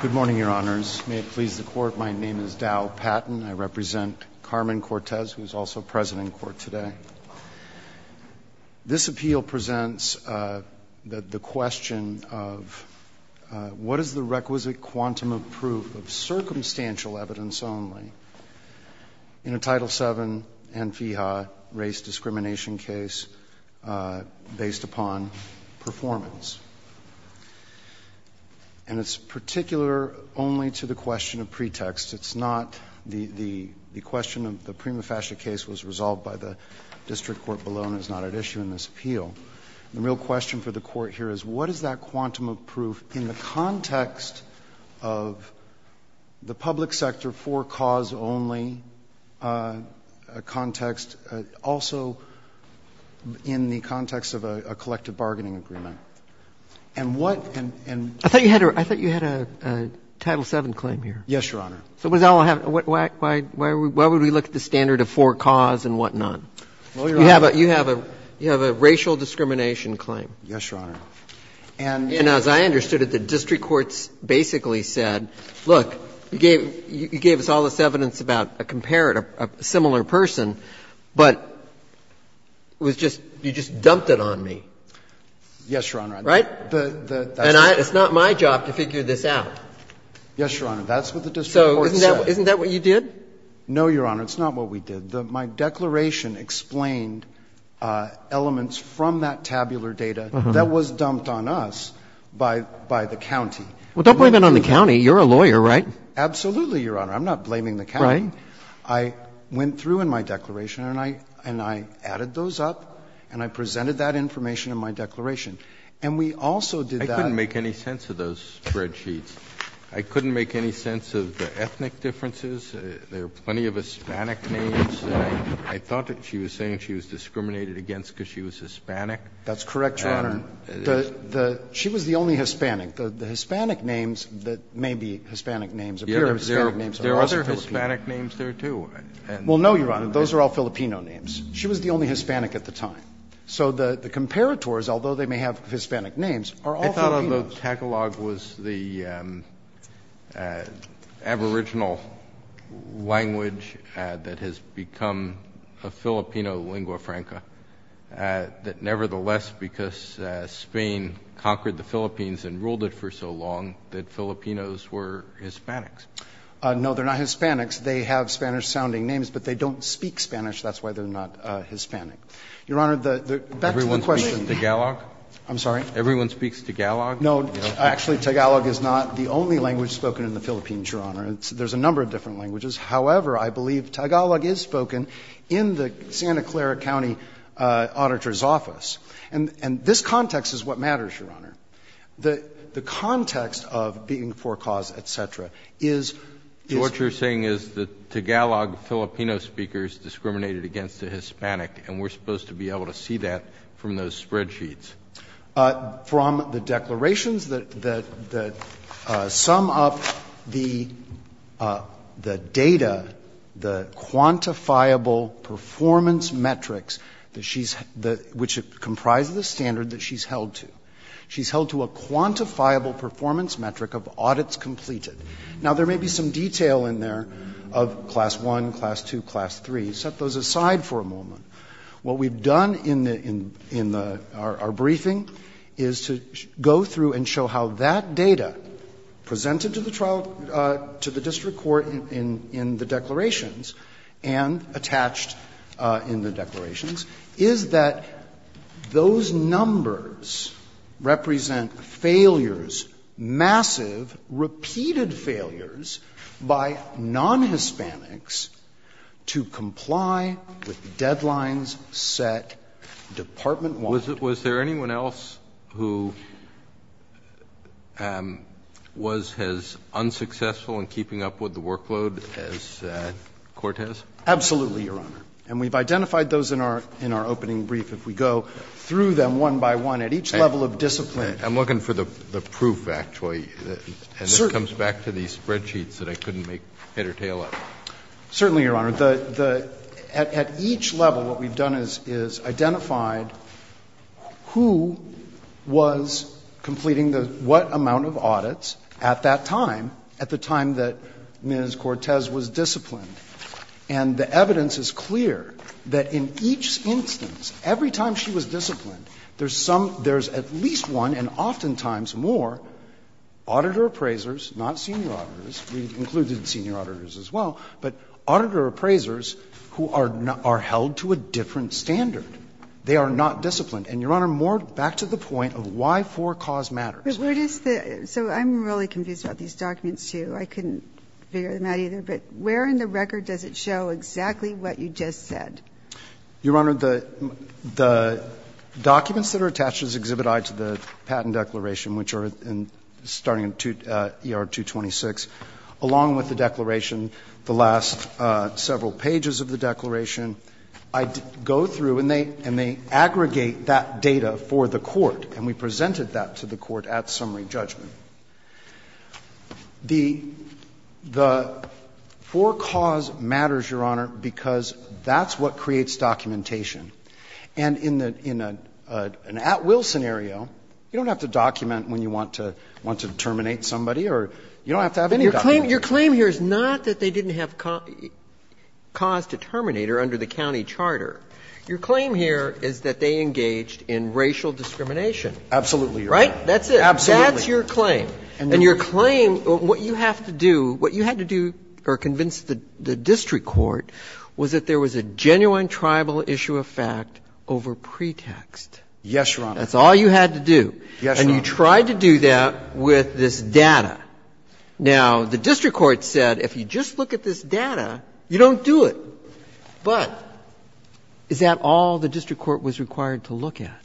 Good morning, Your Honors. May it please the Court, my name is Dow Patton. I represent Carmen Cortes, who is also present in court today. This appeal presents the question of what is the requisite quantum of proof of circumstantial evidence only in a Title VII and FIHA race discrimination case based upon performance. And it's particular only to the question of pretext. It's not the question of the prima facie case was resolved by the district court below and is not at issue in this appeal. The real question for the Court here is what is that quantum of proof in the context of the public sector for-cause-only context, also in the context of a collective bargaining agreement. And what can — I thought you had a Title VII claim here. Yes, Your Honor. Why would we look at the standard of for-cause and whatnot? Well, Your Honor — You have a racial discrimination claim. Yes, Your Honor. And as I understood it, the district courts basically said, look, you gave us all this evidence about a comparator, a similar person, but it was just — you just dumped it on me. Yes, Your Honor. Right? And I — it's not my job to figure this out. Yes, Your Honor. That's what the district courts said. So isn't that what you did? No, Your Honor. It's not what we did. My declaration explained elements from that tabular data that was dumped on us by the county. Well, don't blame it on the county. You're a lawyer, right? Absolutely, Your Honor. I'm not blaming the county. Right. I went through in my declaration, and I added those up, and I presented that information in my declaration. And we also did that — I couldn't make any sense of those spreadsheets. I couldn't make any sense of the ethnic differences. There are plenty of Hispanic names. I thought that she was saying she was discriminated against because she was Hispanic. That's correct, Your Honor. She was the only Hispanic. The Hispanic names that may be Hispanic names appear as Hispanic names. There are other Hispanic names there, too. Well, no, Your Honor. Those are all Filipino names. She was the only Hispanic at the time. So the comparators, although they may have Hispanic names, are all Filipino. I thought of Tagalog was the aboriginal language that has become a Filipino lingua franca, that nevertheless, because Spain conquered the Philippines and ruled it for so long, that Filipinos were Hispanics. No, they're not Hispanics. They have Spanish-sounding names, but they don't speak Spanish. That's why they're not Hispanic. Your Honor, back to the question. Everyone speaks Tagalog? I'm sorry? Everyone speaks Tagalog? No. Actually, Tagalog is not the only language spoken in the Philippines, Your Honor. There's a number of different languages. However, I believe Tagalog is spoken in the Santa Clara County Auditor's Office. And this context is what matters, Your Honor. The context of being for cause, et cetera, is what you're saying is that Tagalog Filipino speakers discriminated against the Hispanic, and we're supposed to be able to see that from those spreadsheets. From the declarations that sum up the data, the quantifiable performance metrics that she's — which comprise the standard that she's held to. She's held to a quantifiable performance metric of audits completed. Now, there may be some detail in there of Class I, Class II, Class III. Set those aside for a moment. What we've done in the — in the — our briefing is to go through and show how that data presented to the trial — to the district court in the declarations and attached in the declarations is that those numbers represent failures, massive repeated failures by non-Hispanics to comply with deadlines set department-wide. Was there anyone else who was as unsuccessful in keeping up with the workload as Cortez? Absolutely, Your Honor. And we've identified those in our — in our opening brief. If we go through them one by one at each level of discipline. I'm looking for the proof, actually. Certainly. And this comes back to these spreadsheets that I couldn't make head or tail of. Certainly, Your Honor. The — at each level, what we've done is identified who was completing what amount of audits at that time, at the time that Ms. Cortez was disciplined. And the evidence is clear that in each instance, every time she was disciplined, there's some — there's at least one, and oftentimes more, auditor appraisers, not senior auditors — we've included senior auditors as well — but auditor appraisers who are held to a different standard. They are not disciplined. And, Your Honor, more back to the point of why for cause matters. But where does the — so I'm really confused about these documents, too. I couldn't figure them out either. But where in the record does it show exactly what you just said? Your Honor, the documents that are attached as Exhibit I to the Patent Declaration, which are starting in ER-226, along with the declaration, the last several pages of the declaration, I go through and they aggregate that data for the court. And we presented that to the court at summary judgment. The for cause matters, Your Honor, because that's what creates documentation. And in the — in an at-will scenario, you don't have to document when you want to terminate somebody or you don't have to have any document. Your claim here is not that they didn't have cause to terminate her under the county charter. Your claim here is that they engaged in racial discrimination. Absolutely, Your Honor. Right? That's it. Absolutely. And that's your claim. And your claim, what you have to do, what you had to do or convince the district court was that there was a genuine tribal issue of fact over pretext. Yes, Your Honor. That's all you had to do. Yes, Your Honor. And you tried to do that with this data. Now, the district court said if you just look at this data, you don't do it. But is that all the district court was required to look at?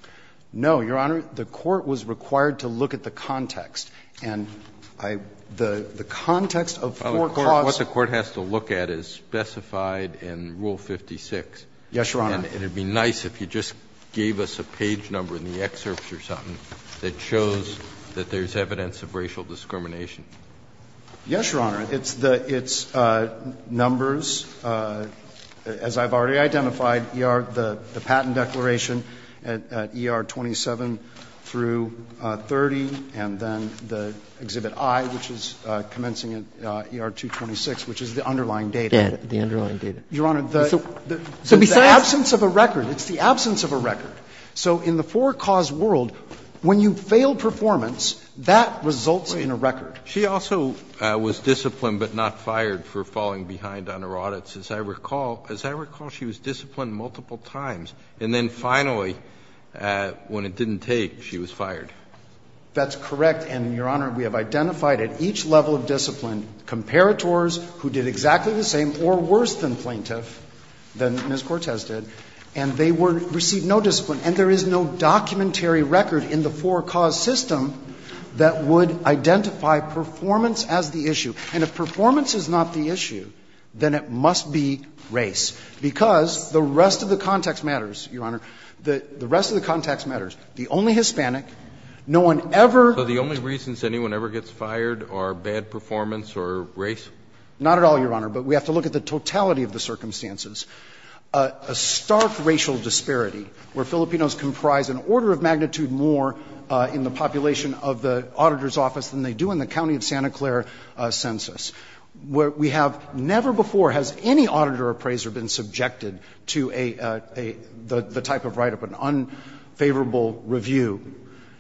No, Your Honor. The court was required to look at the context. And I — the context of four clauses. What the court has to look at is specified in Rule 56. Yes, Your Honor. And it would be nice if you just gave us a page number in the excerpts or something that shows that there's evidence of racial discrimination. Yes, Your Honor. It's the — it's numbers. As I've already identified, the patent declaration at ER 27 through 30, and then the Exhibit I, which is commencing at ER 226, which is the underlying data. Yes, the underlying data. Your Honor, the absence of a record, it's the absence of a record. So in the four-cause world, when you fail performance, that results in a record. She also was disciplined but not fired for falling behind on her audits, as I recall. As I recall, she was disciplined multiple times. And then finally, when it didn't take, she was fired. That's correct. And, Your Honor, we have identified at each level of discipline comparators who did exactly the same or worse than plaintiff, than Ms. Cortez did. And they received no discipline. And there is no documentary record in the four-cause system that would identify performance as the issue. And if performance is not the issue, then it must be race. Because the rest of the context matters, Your Honor. The rest of the context matters. The only Hispanic, no one ever — So the only reasons anyone ever gets fired are bad performance or race? Not at all, Your Honor. But we have to look at the totality of the circumstances. A stark racial disparity where Filipinos comprise an order of magnitude more in the population of the auditor's office than they do in the county of Santa Clara census. We have never before has any auditor appraiser been subjected to a — the type of write-up, an unfavorable review.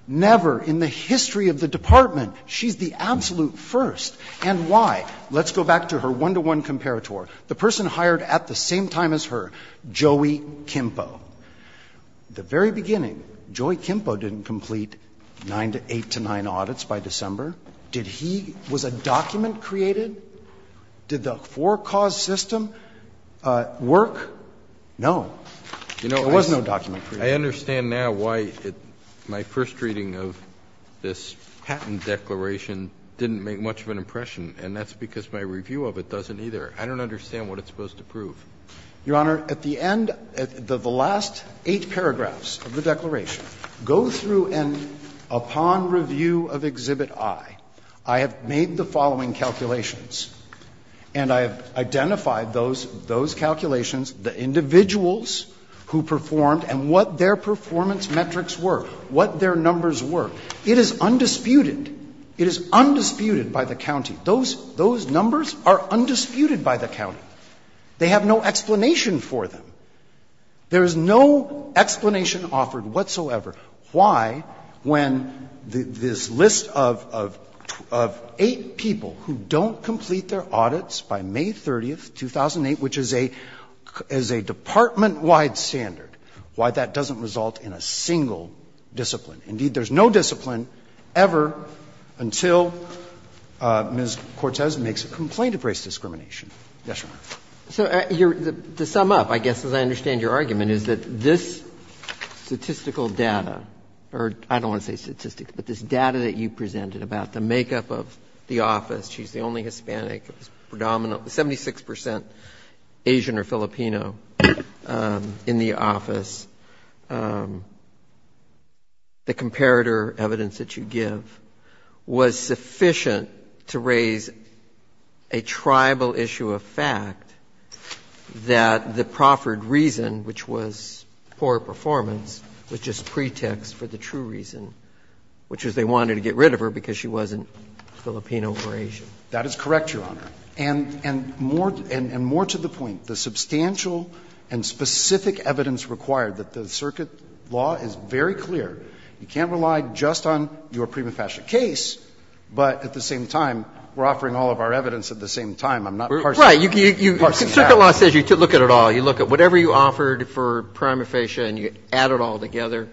Never in the history of the Department. She's the absolute first. And why? Let's go back to her one-to-one comparator. The person hired at the same time as her, Joey Kimpo. The very beginning, Joey Kimpo didn't complete nine to eight to nine audits by December. Did he — was a document created? Did the four-cause system work? No. There was no document created. I understand now why my first reading of this patent declaration didn't make much of an impression. And that's because my review of it doesn't either. I don't understand what it's supposed to prove. Your Honor, at the end, the last eight paragraphs of the declaration go through and upon review of Exhibit I, I have made the following calculations. And I have identified those calculations, the individuals who performed and what their performance metrics were, what their numbers were. It is undisputed. It is undisputed by the county. Those numbers are undisputed by the county. They have no explanation for them. There is no explanation offered whatsoever why, when this list of eight people who don't complete their audits by May 30th, 2008, which is a department-wide standard, why that doesn't result in a single discipline. Indeed, there's no discipline ever until Ms. Cortez makes a complaint of race discrimination. Yes, Your Honor. So to sum up, I guess, as I understand your argument, is that this statistical data, or I don't want to say statistics, but this data that you presented about the makeup of the office, she's the only Hispanic predominant, 76 percent Asian or African-American. And the comparative evidence that you give was sufficient to raise a tribal issue of fact that the proffered reason, which was poor performance, was just pretext for the true reason, which was they wanted to get rid of her because she wasn't Filipino or Asian. That is correct, Your Honor. And more to the point, the substantial and specific evidence required that the circuit law is very clear, you can't rely just on your prima facie case, but at the same time, we're offering all of our evidence at the same time. I'm not parsing that. Right. Circuit law says you look at it all. You look at whatever you offered for prima facie and you add it all together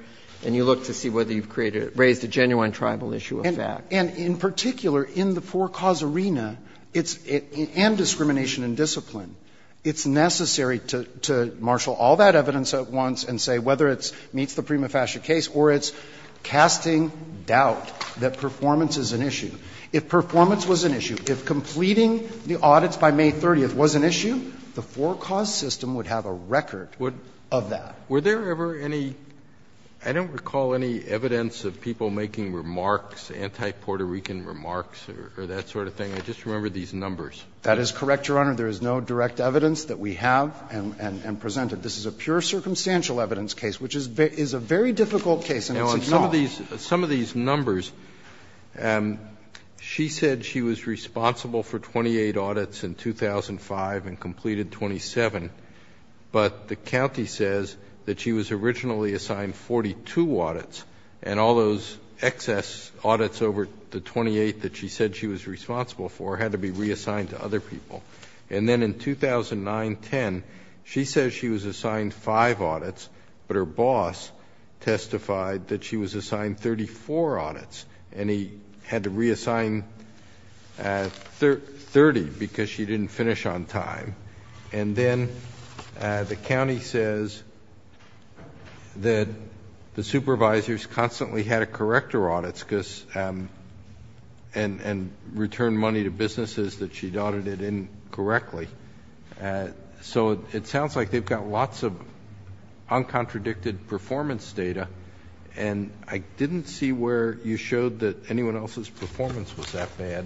and you look to see whether you've created or raised a genuine tribal issue of fact. And in particular, in the four-cause arena, and discrimination and discipline, it's necessary to marshal all that evidence at once and say whether it meets the prima facie case or it's casting doubt that performance is an issue. If performance was an issue, if completing the audits by May 30th was an issue, the four-cause system would have a record of that. Were there ever any — I don't recall any evidence of people making remarks anti-Puerto Rican remarks or that sort of thing. I just remember these numbers. That is correct, Your Honor. There is no direct evidence that we have and presented. This is a pure circumstantial evidence case, which is a very difficult case and it's ignored. Some of these numbers, she said she was responsible for 28 audits in 2005 and completed 27, but the county says that she was originally assigned 42 audits, and all those excess audits over the 28 that she said she was responsible for had to be reassigned to other people. And then in 2009-10, she says she was assigned five audits, but her boss testified that she was assigned 34 audits, and he had to reassign 30 because she didn't finish on time. And then the county says that the supervisors constantly had to correct her audits because — and return money to businesses that she'd audited incorrectly. So it sounds like they've got lots of uncontradicted performance data, and I didn't see where you showed that anyone else's performance was that bad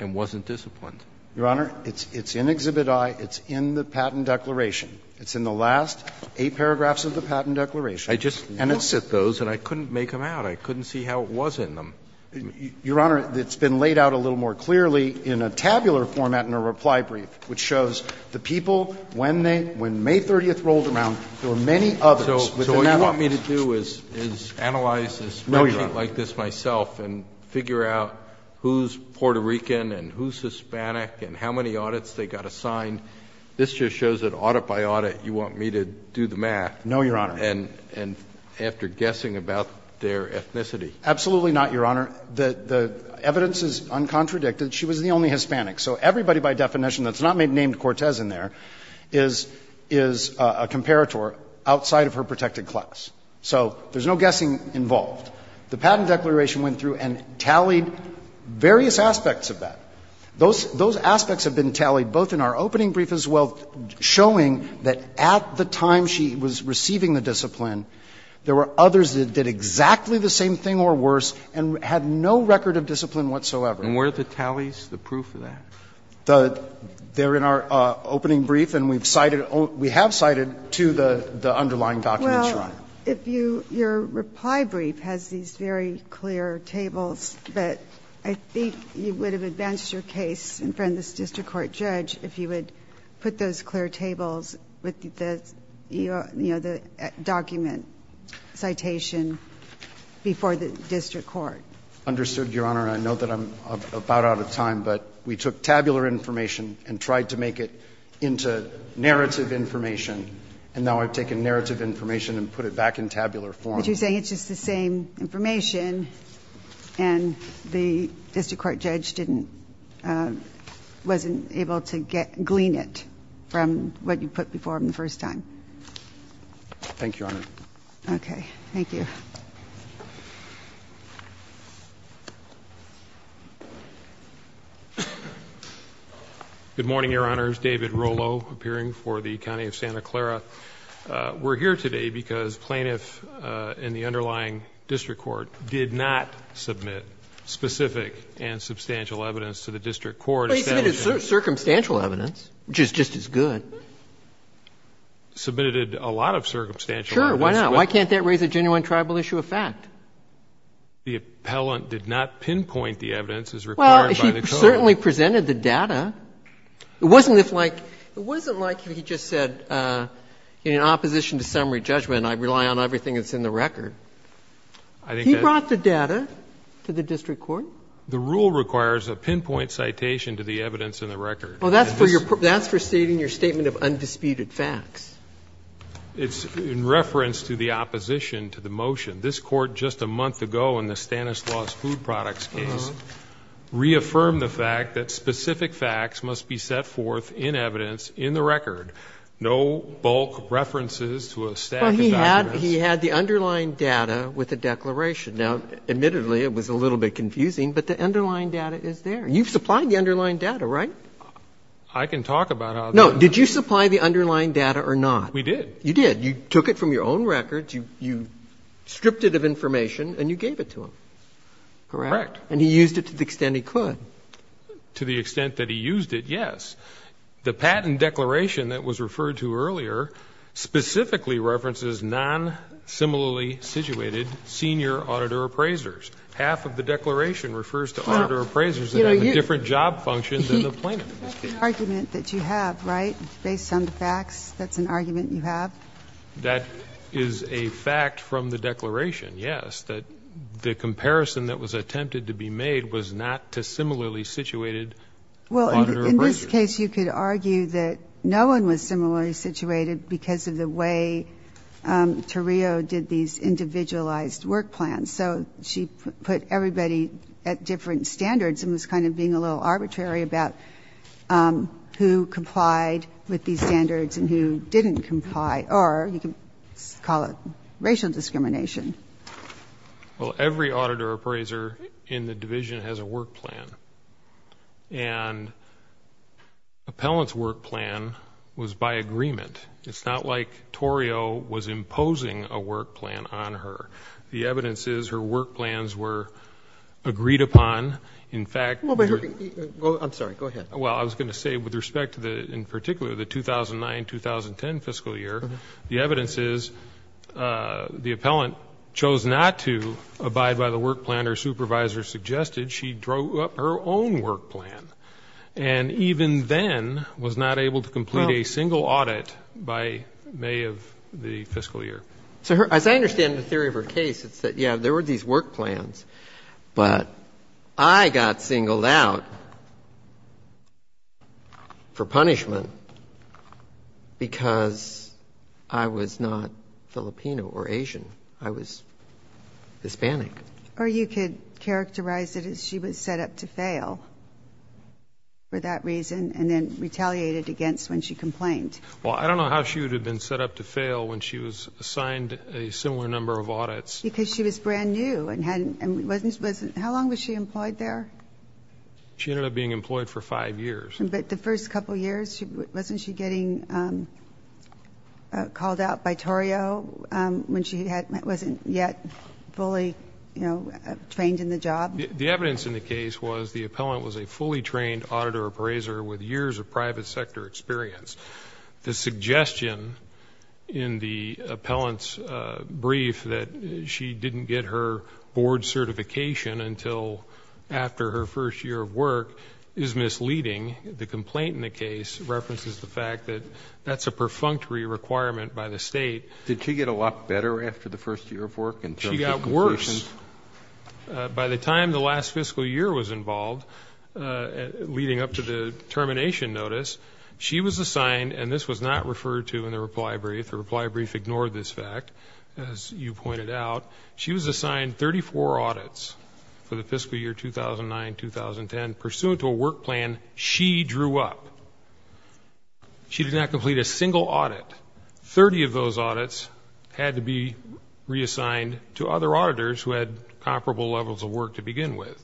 and wasn't disciplined. Your Honor, it's in Exhibit I. It's in the Patent Declaration. It's in the last eight paragraphs of the Patent Declaration. And it's in those, and I couldn't make them out. I couldn't see how it was in them. Your Honor, it's been laid out a little more clearly in a tabular format in a reply brief, which shows the people, when they — when May 30th rolled around, there were many others. So what you want me to do is analyze this like this myself and figure out who's Puerto Rican and who's Hispanic and how many audits they got assigned. This just shows that audit by audit, you want me to do the math. No, Your Honor. And after guessing about their ethnicity. Absolutely not, Your Honor. The evidence is uncontradicted. She was the only Hispanic. So everybody by definition that's not named Cortez in there is a comparator outside of her protected class. So there's no guessing involved. The Patent Declaration went through and tallied various aspects of that. Those aspects have been tallied both in our opening brief as well, showing that at the time she was receiving the discipline, there were others that did exactly the same thing or worse and had no record of discipline whatsoever. And were the tallies the proof of that? They're in our opening brief and we've cited — we have cited to the underlying documents, Your Honor. Well, if you — your reply brief has these very clear tables, but I think you would have advanced your case in front of this district court judge if you would put those clear tables with the, you know, the document citation before the district court. Understood, Your Honor. I know that I'm about out of time, but we took tabular information and tried to make it into narrative information. And now I've taken narrative information and put it back in tabular form. But you're saying it's just the same information and the district court judge didn't — wasn't able to glean it from what you put before him the first time. Thank you, Your Honor. Okay. Thank you. Good morning, Your Honors. David Rolo, appearing for the County of Santa Clara. We're here today because plaintiffs in the underlying district court did not submit specific and substantial evidence to the district court. Well, he submitted circumstantial evidence, which is just as good. He submitted a lot of circumstantial evidence. Why not? It's a tribal issue of fact. The appellant did not pinpoint the evidence as required by the code. Well, he certainly presented the data. It wasn't if like — it wasn't like he just said in opposition to summary judgment I rely on everything that's in the record. He brought the data to the district court. The rule requires a pinpoint citation to the evidence in the record. Well, that's for your — that's for stating your statement of undisputed facts. It's in reference to the opposition to the motion. This Court just a month ago in the Stanislaus Food Products case reaffirmed the fact that specific facts must be set forth in evidence in the record, no bulk references to a stack of documents. Well, he had the underlying data with a declaration. Now, admittedly, it was a little bit confusing, but the underlying data is there. You've supplied the underlying data, right? I can talk about how — No. Did you supply the underlying data or not? We did. You did. You took it from your own records, you stripped it of information, and you gave it to him. Correct? Correct. And he used it to the extent he could. To the extent that he used it, yes. The patent declaration that was referred to earlier specifically references non-similarly situated senior auditor appraisers. Half of the declaration refers to auditor appraisers that have a different job function than the plaintiff. That's an argument that you have, right, based on the facts? That's an argument you have? That is a fact from the declaration, yes, that the comparison that was attempted to be made was not to similarly situated auditor appraisers. Well, in this case, you could argue that no one was similarly situated because of the way Tarillo did these individualized work plans. So she put everybody at different standards and was kind of being a little arbitrary about who complied with these standards and who didn't comply, or you could call it racial discrimination. Well, every auditor appraiser in the division has a work plan, and Appellant's work plan was by agreement. It's not like Tarillo was imposing a work plan on her. The evidence is her work plans were agreed upon. I'm sorry. Go ahead. Well, I was going to say with respect to, in particular, the 2009-2010 fiscal year, the evidence is the Appellant chose not to abide by the work plan her supervisor suggested. She drew up her own work plan and even then was not able to complete a single audit by May of the fiscal year. As I understand the theory of her case, it's that, yeah, there were these work plans, but I got singled out for punishment because I was not Filipino or Asian. I was Hispanic. Or you could characterize it as she was set up to fail for that reason and then retaliated against when she complained. Well, I don't know how she would have been set up to fail when she was assigned a similar number of audits. Because she was brand new. How long was she employed there? She ended up being employed for five years. But the first couple of years, wasn't she getting called out by Tarillo when she wasn't yet fully trained in the job? The evidence in the case was the Appellant was a fully trained auditor appraiser with years of private sector experience. The suggestion in the Appellant's brief that she didn't get her board certification until after her first year of work is misleading. The complaint in the case references the fact that that's a perfunctory requirement by the state. Did she get a lot better after the first year of work in terms of completion? She got worse. By the time the last fiscal year was involved, leading up to the termination notice, she was assigned, and this was not referred to in the reply brief. The reply brief ignored this fact, as you pointed out. She was assigned 34 audits for the fiscal year 2009-2010. Pursuant to a work plan, she drew up. She did not complete a single audit. Thirty of those audits had to be reassigned to other auditors who had comparable levels of work to begin with.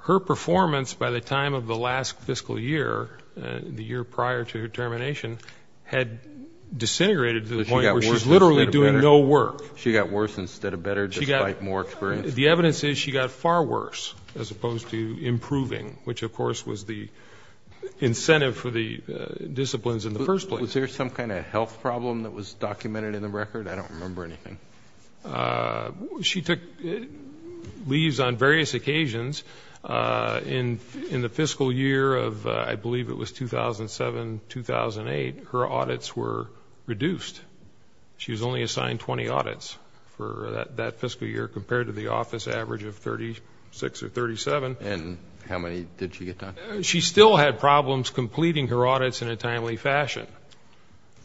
Her performance by the time of the last fiscal year, the year prior to her termination, had disintegrated to the point where she was literally doing no work. She got worse instead of better despite more experience? The evidence is she got far worse as opposed to improving, which of course was the incentive for the disciplines in the first place. Was there some kind of health problem that was documented in the record? I don't remember anything. She took leaves on various occasions. In the fiscal year of, I believe it was 2007-2008, her audits were reduced. She was only assigned 20 audits for that fiscal year compared to the office average of 36 or 37. And how many did she get done? She still had problems completing her audits in a timely fashion.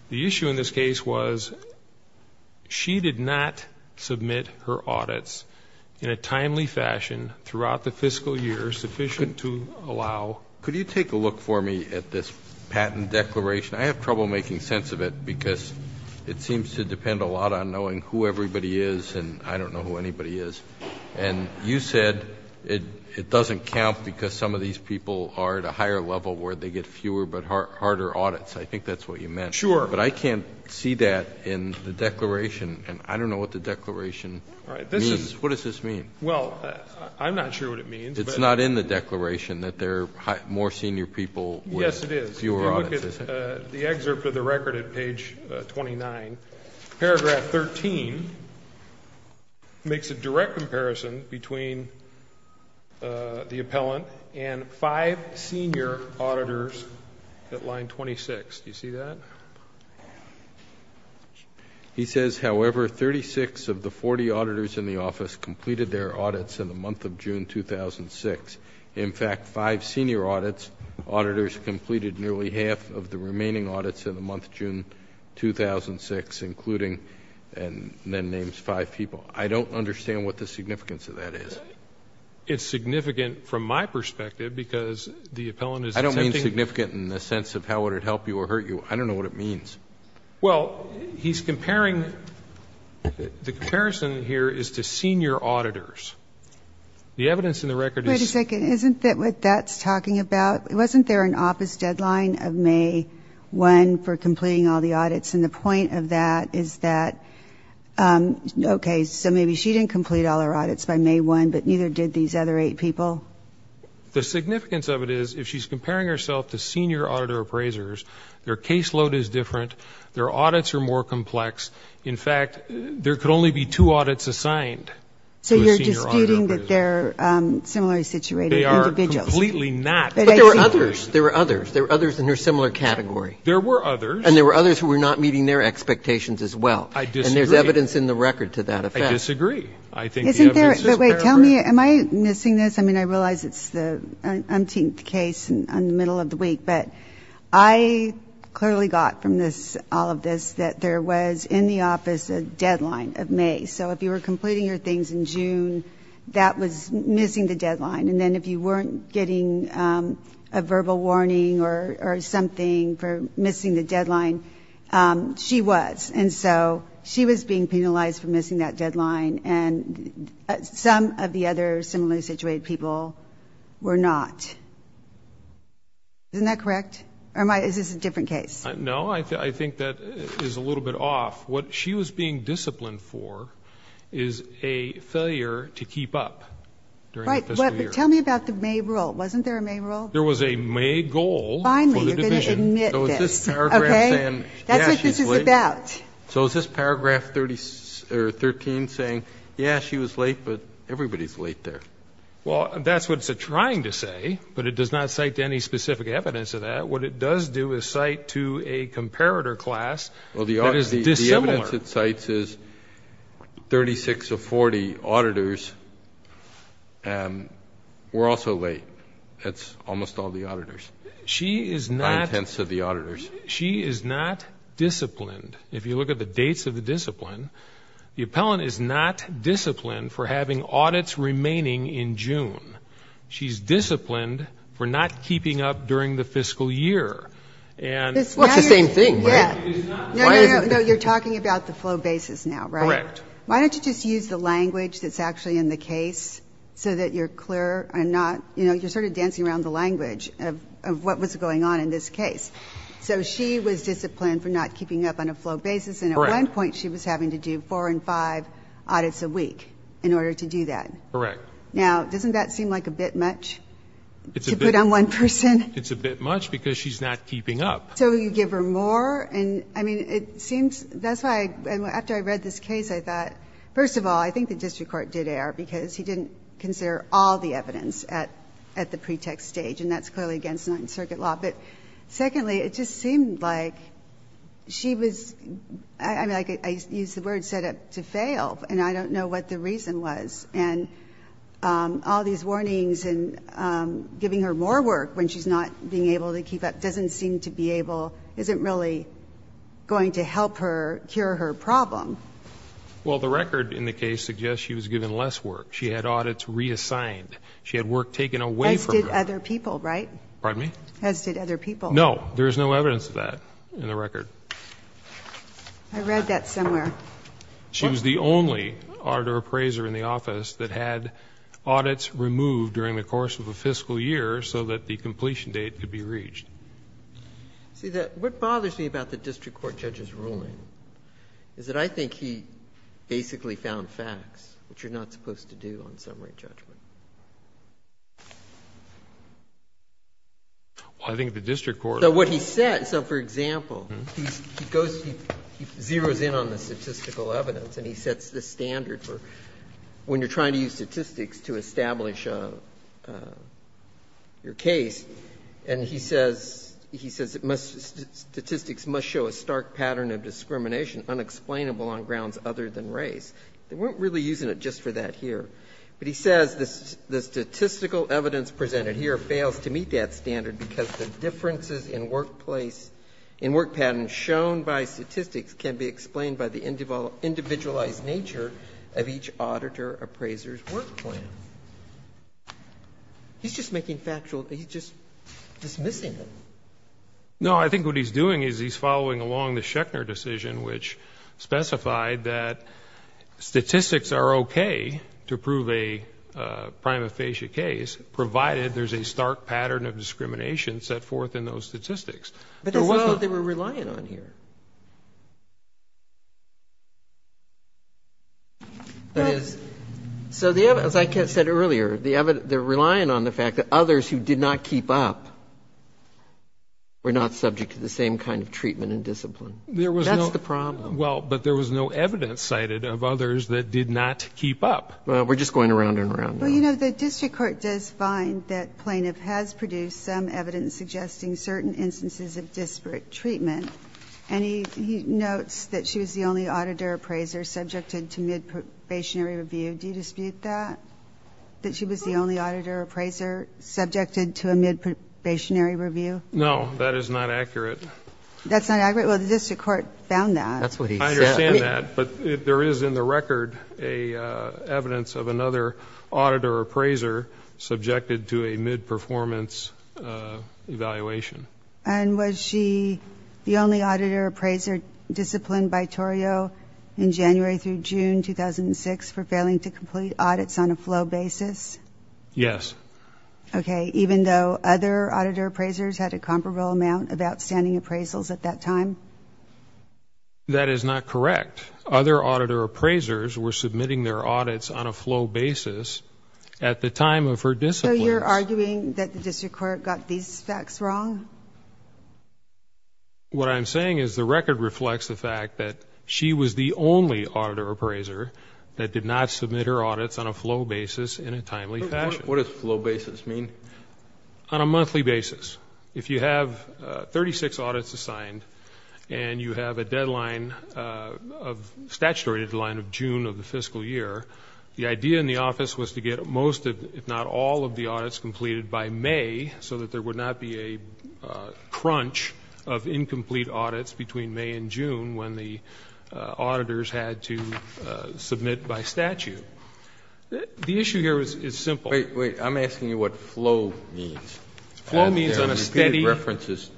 The issue in this case was she did not submit her audits in a timely fashion throughout the fiscal year sufficient to allow. Could you take a look for me at this patent declaration? I have trouble making sense of it because it seems to depend a lot on knowing who everybody is, and I don't know who anybody is. And you said it doesn't count because some of these people are at a higher level where they get fewer but harder audits. I think that's what you meant. Sure. But I can't see that in the declaration, and I don't know what the declaration means. What does this mean? Well, I'm not sure what it means. It's not in the declaration that there are more senior people with fewer audits, is it? Yes, it is. Take a look at the excerpt of the record at page 29. Paragraph 13 makes a direct comparison between the appellant and five senior auditors at line 26. Do you see that? He says, however, 36 of the 40 auditors in the office completed their audits in the month of June 2006. In fact, five senior audits, auditors completed nearly half of the remaining audits in the month of June 2006, including and then names five people. I don't understand what the significance of that is. It's significant from my perspective because the appellant is attempting to ---- I don't mean significant in the sense of how would it help you or hurt you. I don't know what it means. Well, he's comparing the comparison here is to senior auditors. The evidence in the record is ---- Wait a second. Isn't that what that's talking about? Wasn't there an office deadline of May 1 for completing all the audits? And the point of that is that, okay, so maybe she didn't complete all her audits by May 1, but neither did these other eight people? The significance of it is if she's comparing herself to senior auditor appraisers, their caseload is different. Their audits are more complex. I'm not disputing that they're similarly situated individuals. They are completely not. But there were others. There were others. There were others in a similar category. There were others. And there were others who were not meeting their expectations as well. I disagree. And there's evidence in the record to that effect. I disagree. I think the evidence is fair. Isn't there ---- But wait, tell me, am I missing this? I mean, I realize it's the umpteenth case on the middle of the week, but I clearly got from this, all of this, that there was in the office a deadline of May. So if you were completing your things in June, that was missing the deadline. And then if you weren't getting a verbal warning or something for missing the deadline, she was. And so she was being penalized for missing that deadline. And some of the other similarly situated people were not. Isn't that correct? Or is this a different case? No, I think that is a little bit off. What she was being disciplined for is a failure to keep up during the fiscal year. Right. But tell me about the May rule. Wasn't there a May rule? There was a May goal for the division. Finally, you're going to admit this. Okay. So is this paragraph saying, yeah, she's late? That's what this is about. So is this paragraph 13 saying, yeah, she was late, but everybody's late there? Well, that's what it's trying to say, but it does not cite any specific evidence of that. What it does do is cite to a comparator class that is dissimilar. Well, the evidence it cites is 36 of 40 auditors were also late. That's almost all the auditors, nine-tenths of the auditors. She is not disciplined. If you look at the dates of the discipline, the appellant is not disciplined for having audits remaining in June. She's disciplined for not keeping up during the fiscal year. Well, it's the same thing, right? No, no, no. You're talking about the flow basis now, right? Correct. Why don't you just use the language that's actually in the case so that you're clear and not, you know, you're sort of dancing around the language of what was going on in this case. So she was disciplined for not keeping up on a flow basis, and at one point she was having to do four and five audits a week in order to do that. Correct. Now, doesn't that seem like a bit much to put on one person? It's a bit much because she's not keeping up. So you give her more? And, I mean, it seems that's why, after I read this case, I thought, first of all, I think the district court did err because he didn't consider all the evidence at the pretext stage, and that's clearly against Ninth Circuit law. But secondly, it just seemed like she was, I mean, I used the word set up to fail, and I don't know what the reason was. And all these warnings and giving her more work when she's not being able to keep up doesn't seem to be able, isn't really going to help her, cure her problem. Well, the record in the case suggests she was given less work. She had audits reassigned. She had work taken away from her. As did other people, right? Pardon me? As did other people. No. There is no evidence of that in the record. I read that somewhere. She was the only auditor appraiser in the office that had audits removed during the course of a fiscal year so that the completion date could be reached. See, what bothers me about the district court judge's ruling is that I think he basically found facts, which you're not supposed to do on summary judgment. Well, I think the district court. So what he said, so for example, he goes, he zeroes in on the statistical evidence and he sets the standard for when you're trying to use statistics to establish your case, and he says it must, statistics must show a stark pattern of discrimination unexplainable on grounds other than race. They weren't really using it just for that here. But he says the statistical evidence presented here fails to meet that standard because the differences in workplace, in work patterns shown by statistics can be explained by the individualized nature of each auditor appraiser's work plan. He's just making factual, he's just dismissing them. No, I think what he's doing is he's following along the Schechner decision, which specified that statistics are okay to prove a prima facie case, provided there's a stark pattern of discrimination set forth in those statistics. But that's not what they were relying on here. That is, so as I said earlier, they're relying on the fact that others who did not keep up were not subject to the same kind of treatment and discipline. That's the problem. Well, but there was no evidence cited of others that did not keep up. Well, we're just going around and around now. Well, you know, the district court does find that Plaintiff has produced some evidence suggesting certain instances of disparate treatment. And he notes that she was the only auditor appraiser subjected to mid-probationary review. Do you dispute that, that she was the only auditor appraiser subjected to a mid-probationary review? No, that is not accurate. That's not accurate? Well, the district court found that. That's what he said. I understand that, but there is in the record evidence of another auditor appraiser subjected to a mid-performance evaluation. And was she the only auditor appraiser disciplined by Torrio in January through June 2006 for failing to complete audits on a flow basis? Yes. Okay, even though other auditor appraisers had a comparable amount of outstanding appraisals at that time? That is not correct. Other auditor appraisers were submitting their audits on a flow basis at the time of her discipline. So you're arguing that the district court got these facts wrong? What I'm saying is the record reflects the fact that she was the only auditor appraiser that did not submit her audits on a flow basis in a timely fashion. What does flow basis mean? On a monthly basis. If you have 36 audits assigned and you have a deadline of statutory deadline of June of the fiscal year, the idea in the office was to get most, if not all, of the audits completed by May so that there would not be a crunch of incomplete audits between May and June when the auditors had to submit by statute. The issue here is simple. Wait, wait. I'm asking you what flow means. Flow means on a steady basis,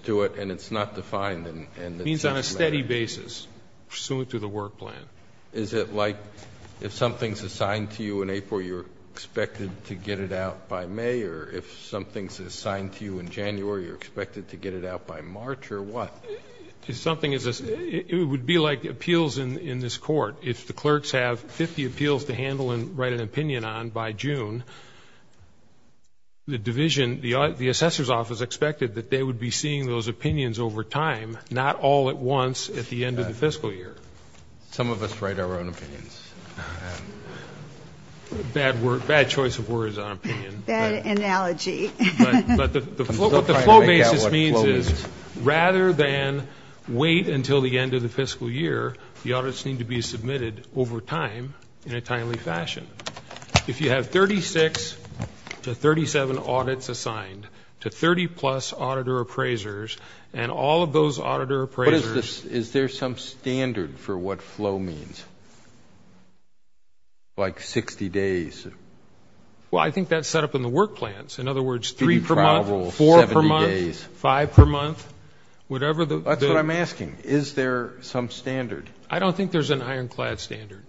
pursuant to the work plan. Is it like if something is assigned to you in April, you're expected to get it out by May, or if something is assigned to you in January, you're expected to get it out by March, or what? It would be like appeals in this court. If the clerks have 50 appeals to handle and write an opinion on by June, the division, the assessor's office expected that they would be seeing those opinions over time, not all at once at the end of the fiscal year. Some of us write our own opinions. Bad choice of words on opinion. Bad analogy. But what the flow basis means is rather than wait until the end of the fiscal year, the audits need to be submitted over time in a timely fashion. If you have 36 to 37 audits assigned to 30-plus auditor appraisers, and all of those auditor appraisers. But is there some standard for what flow means? Like 60 days? Well, I think that's set up in the work plans. In other words, three per month, four per month, five per month. That's what I'm asking. Is there some standard? I don't think there's an ironclad standard.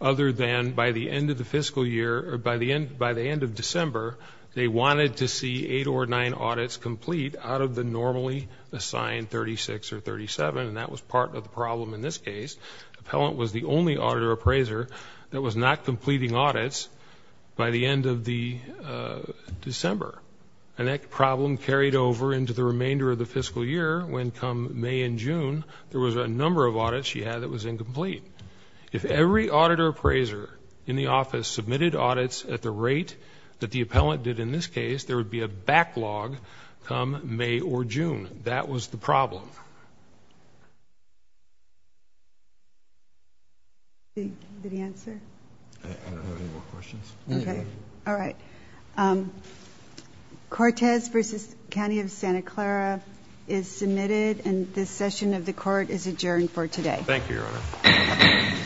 Other than by the end of the fiscal year, or by the end of December, they wanted to see eight or nine audits complete out of the normally assigned 36 or 37, and that was part of the problem in this case. Appellant was the only auditor appraiser that was not completing audits by the end of December. And that problem carried over into the remainder of the fiscal year when, come May and June, there was a number of audits she had that was incomplete. If every auditor appraiser in the office submitted audits at the rate that the appellant did in this case, there would be a backlog come May or June. That was the problem. Did he answer? I don't have any more questions. All right. Cortez v. County of Santa Clara is submitted, and this session of the court is adjourned for today. Thank you, Your Honor.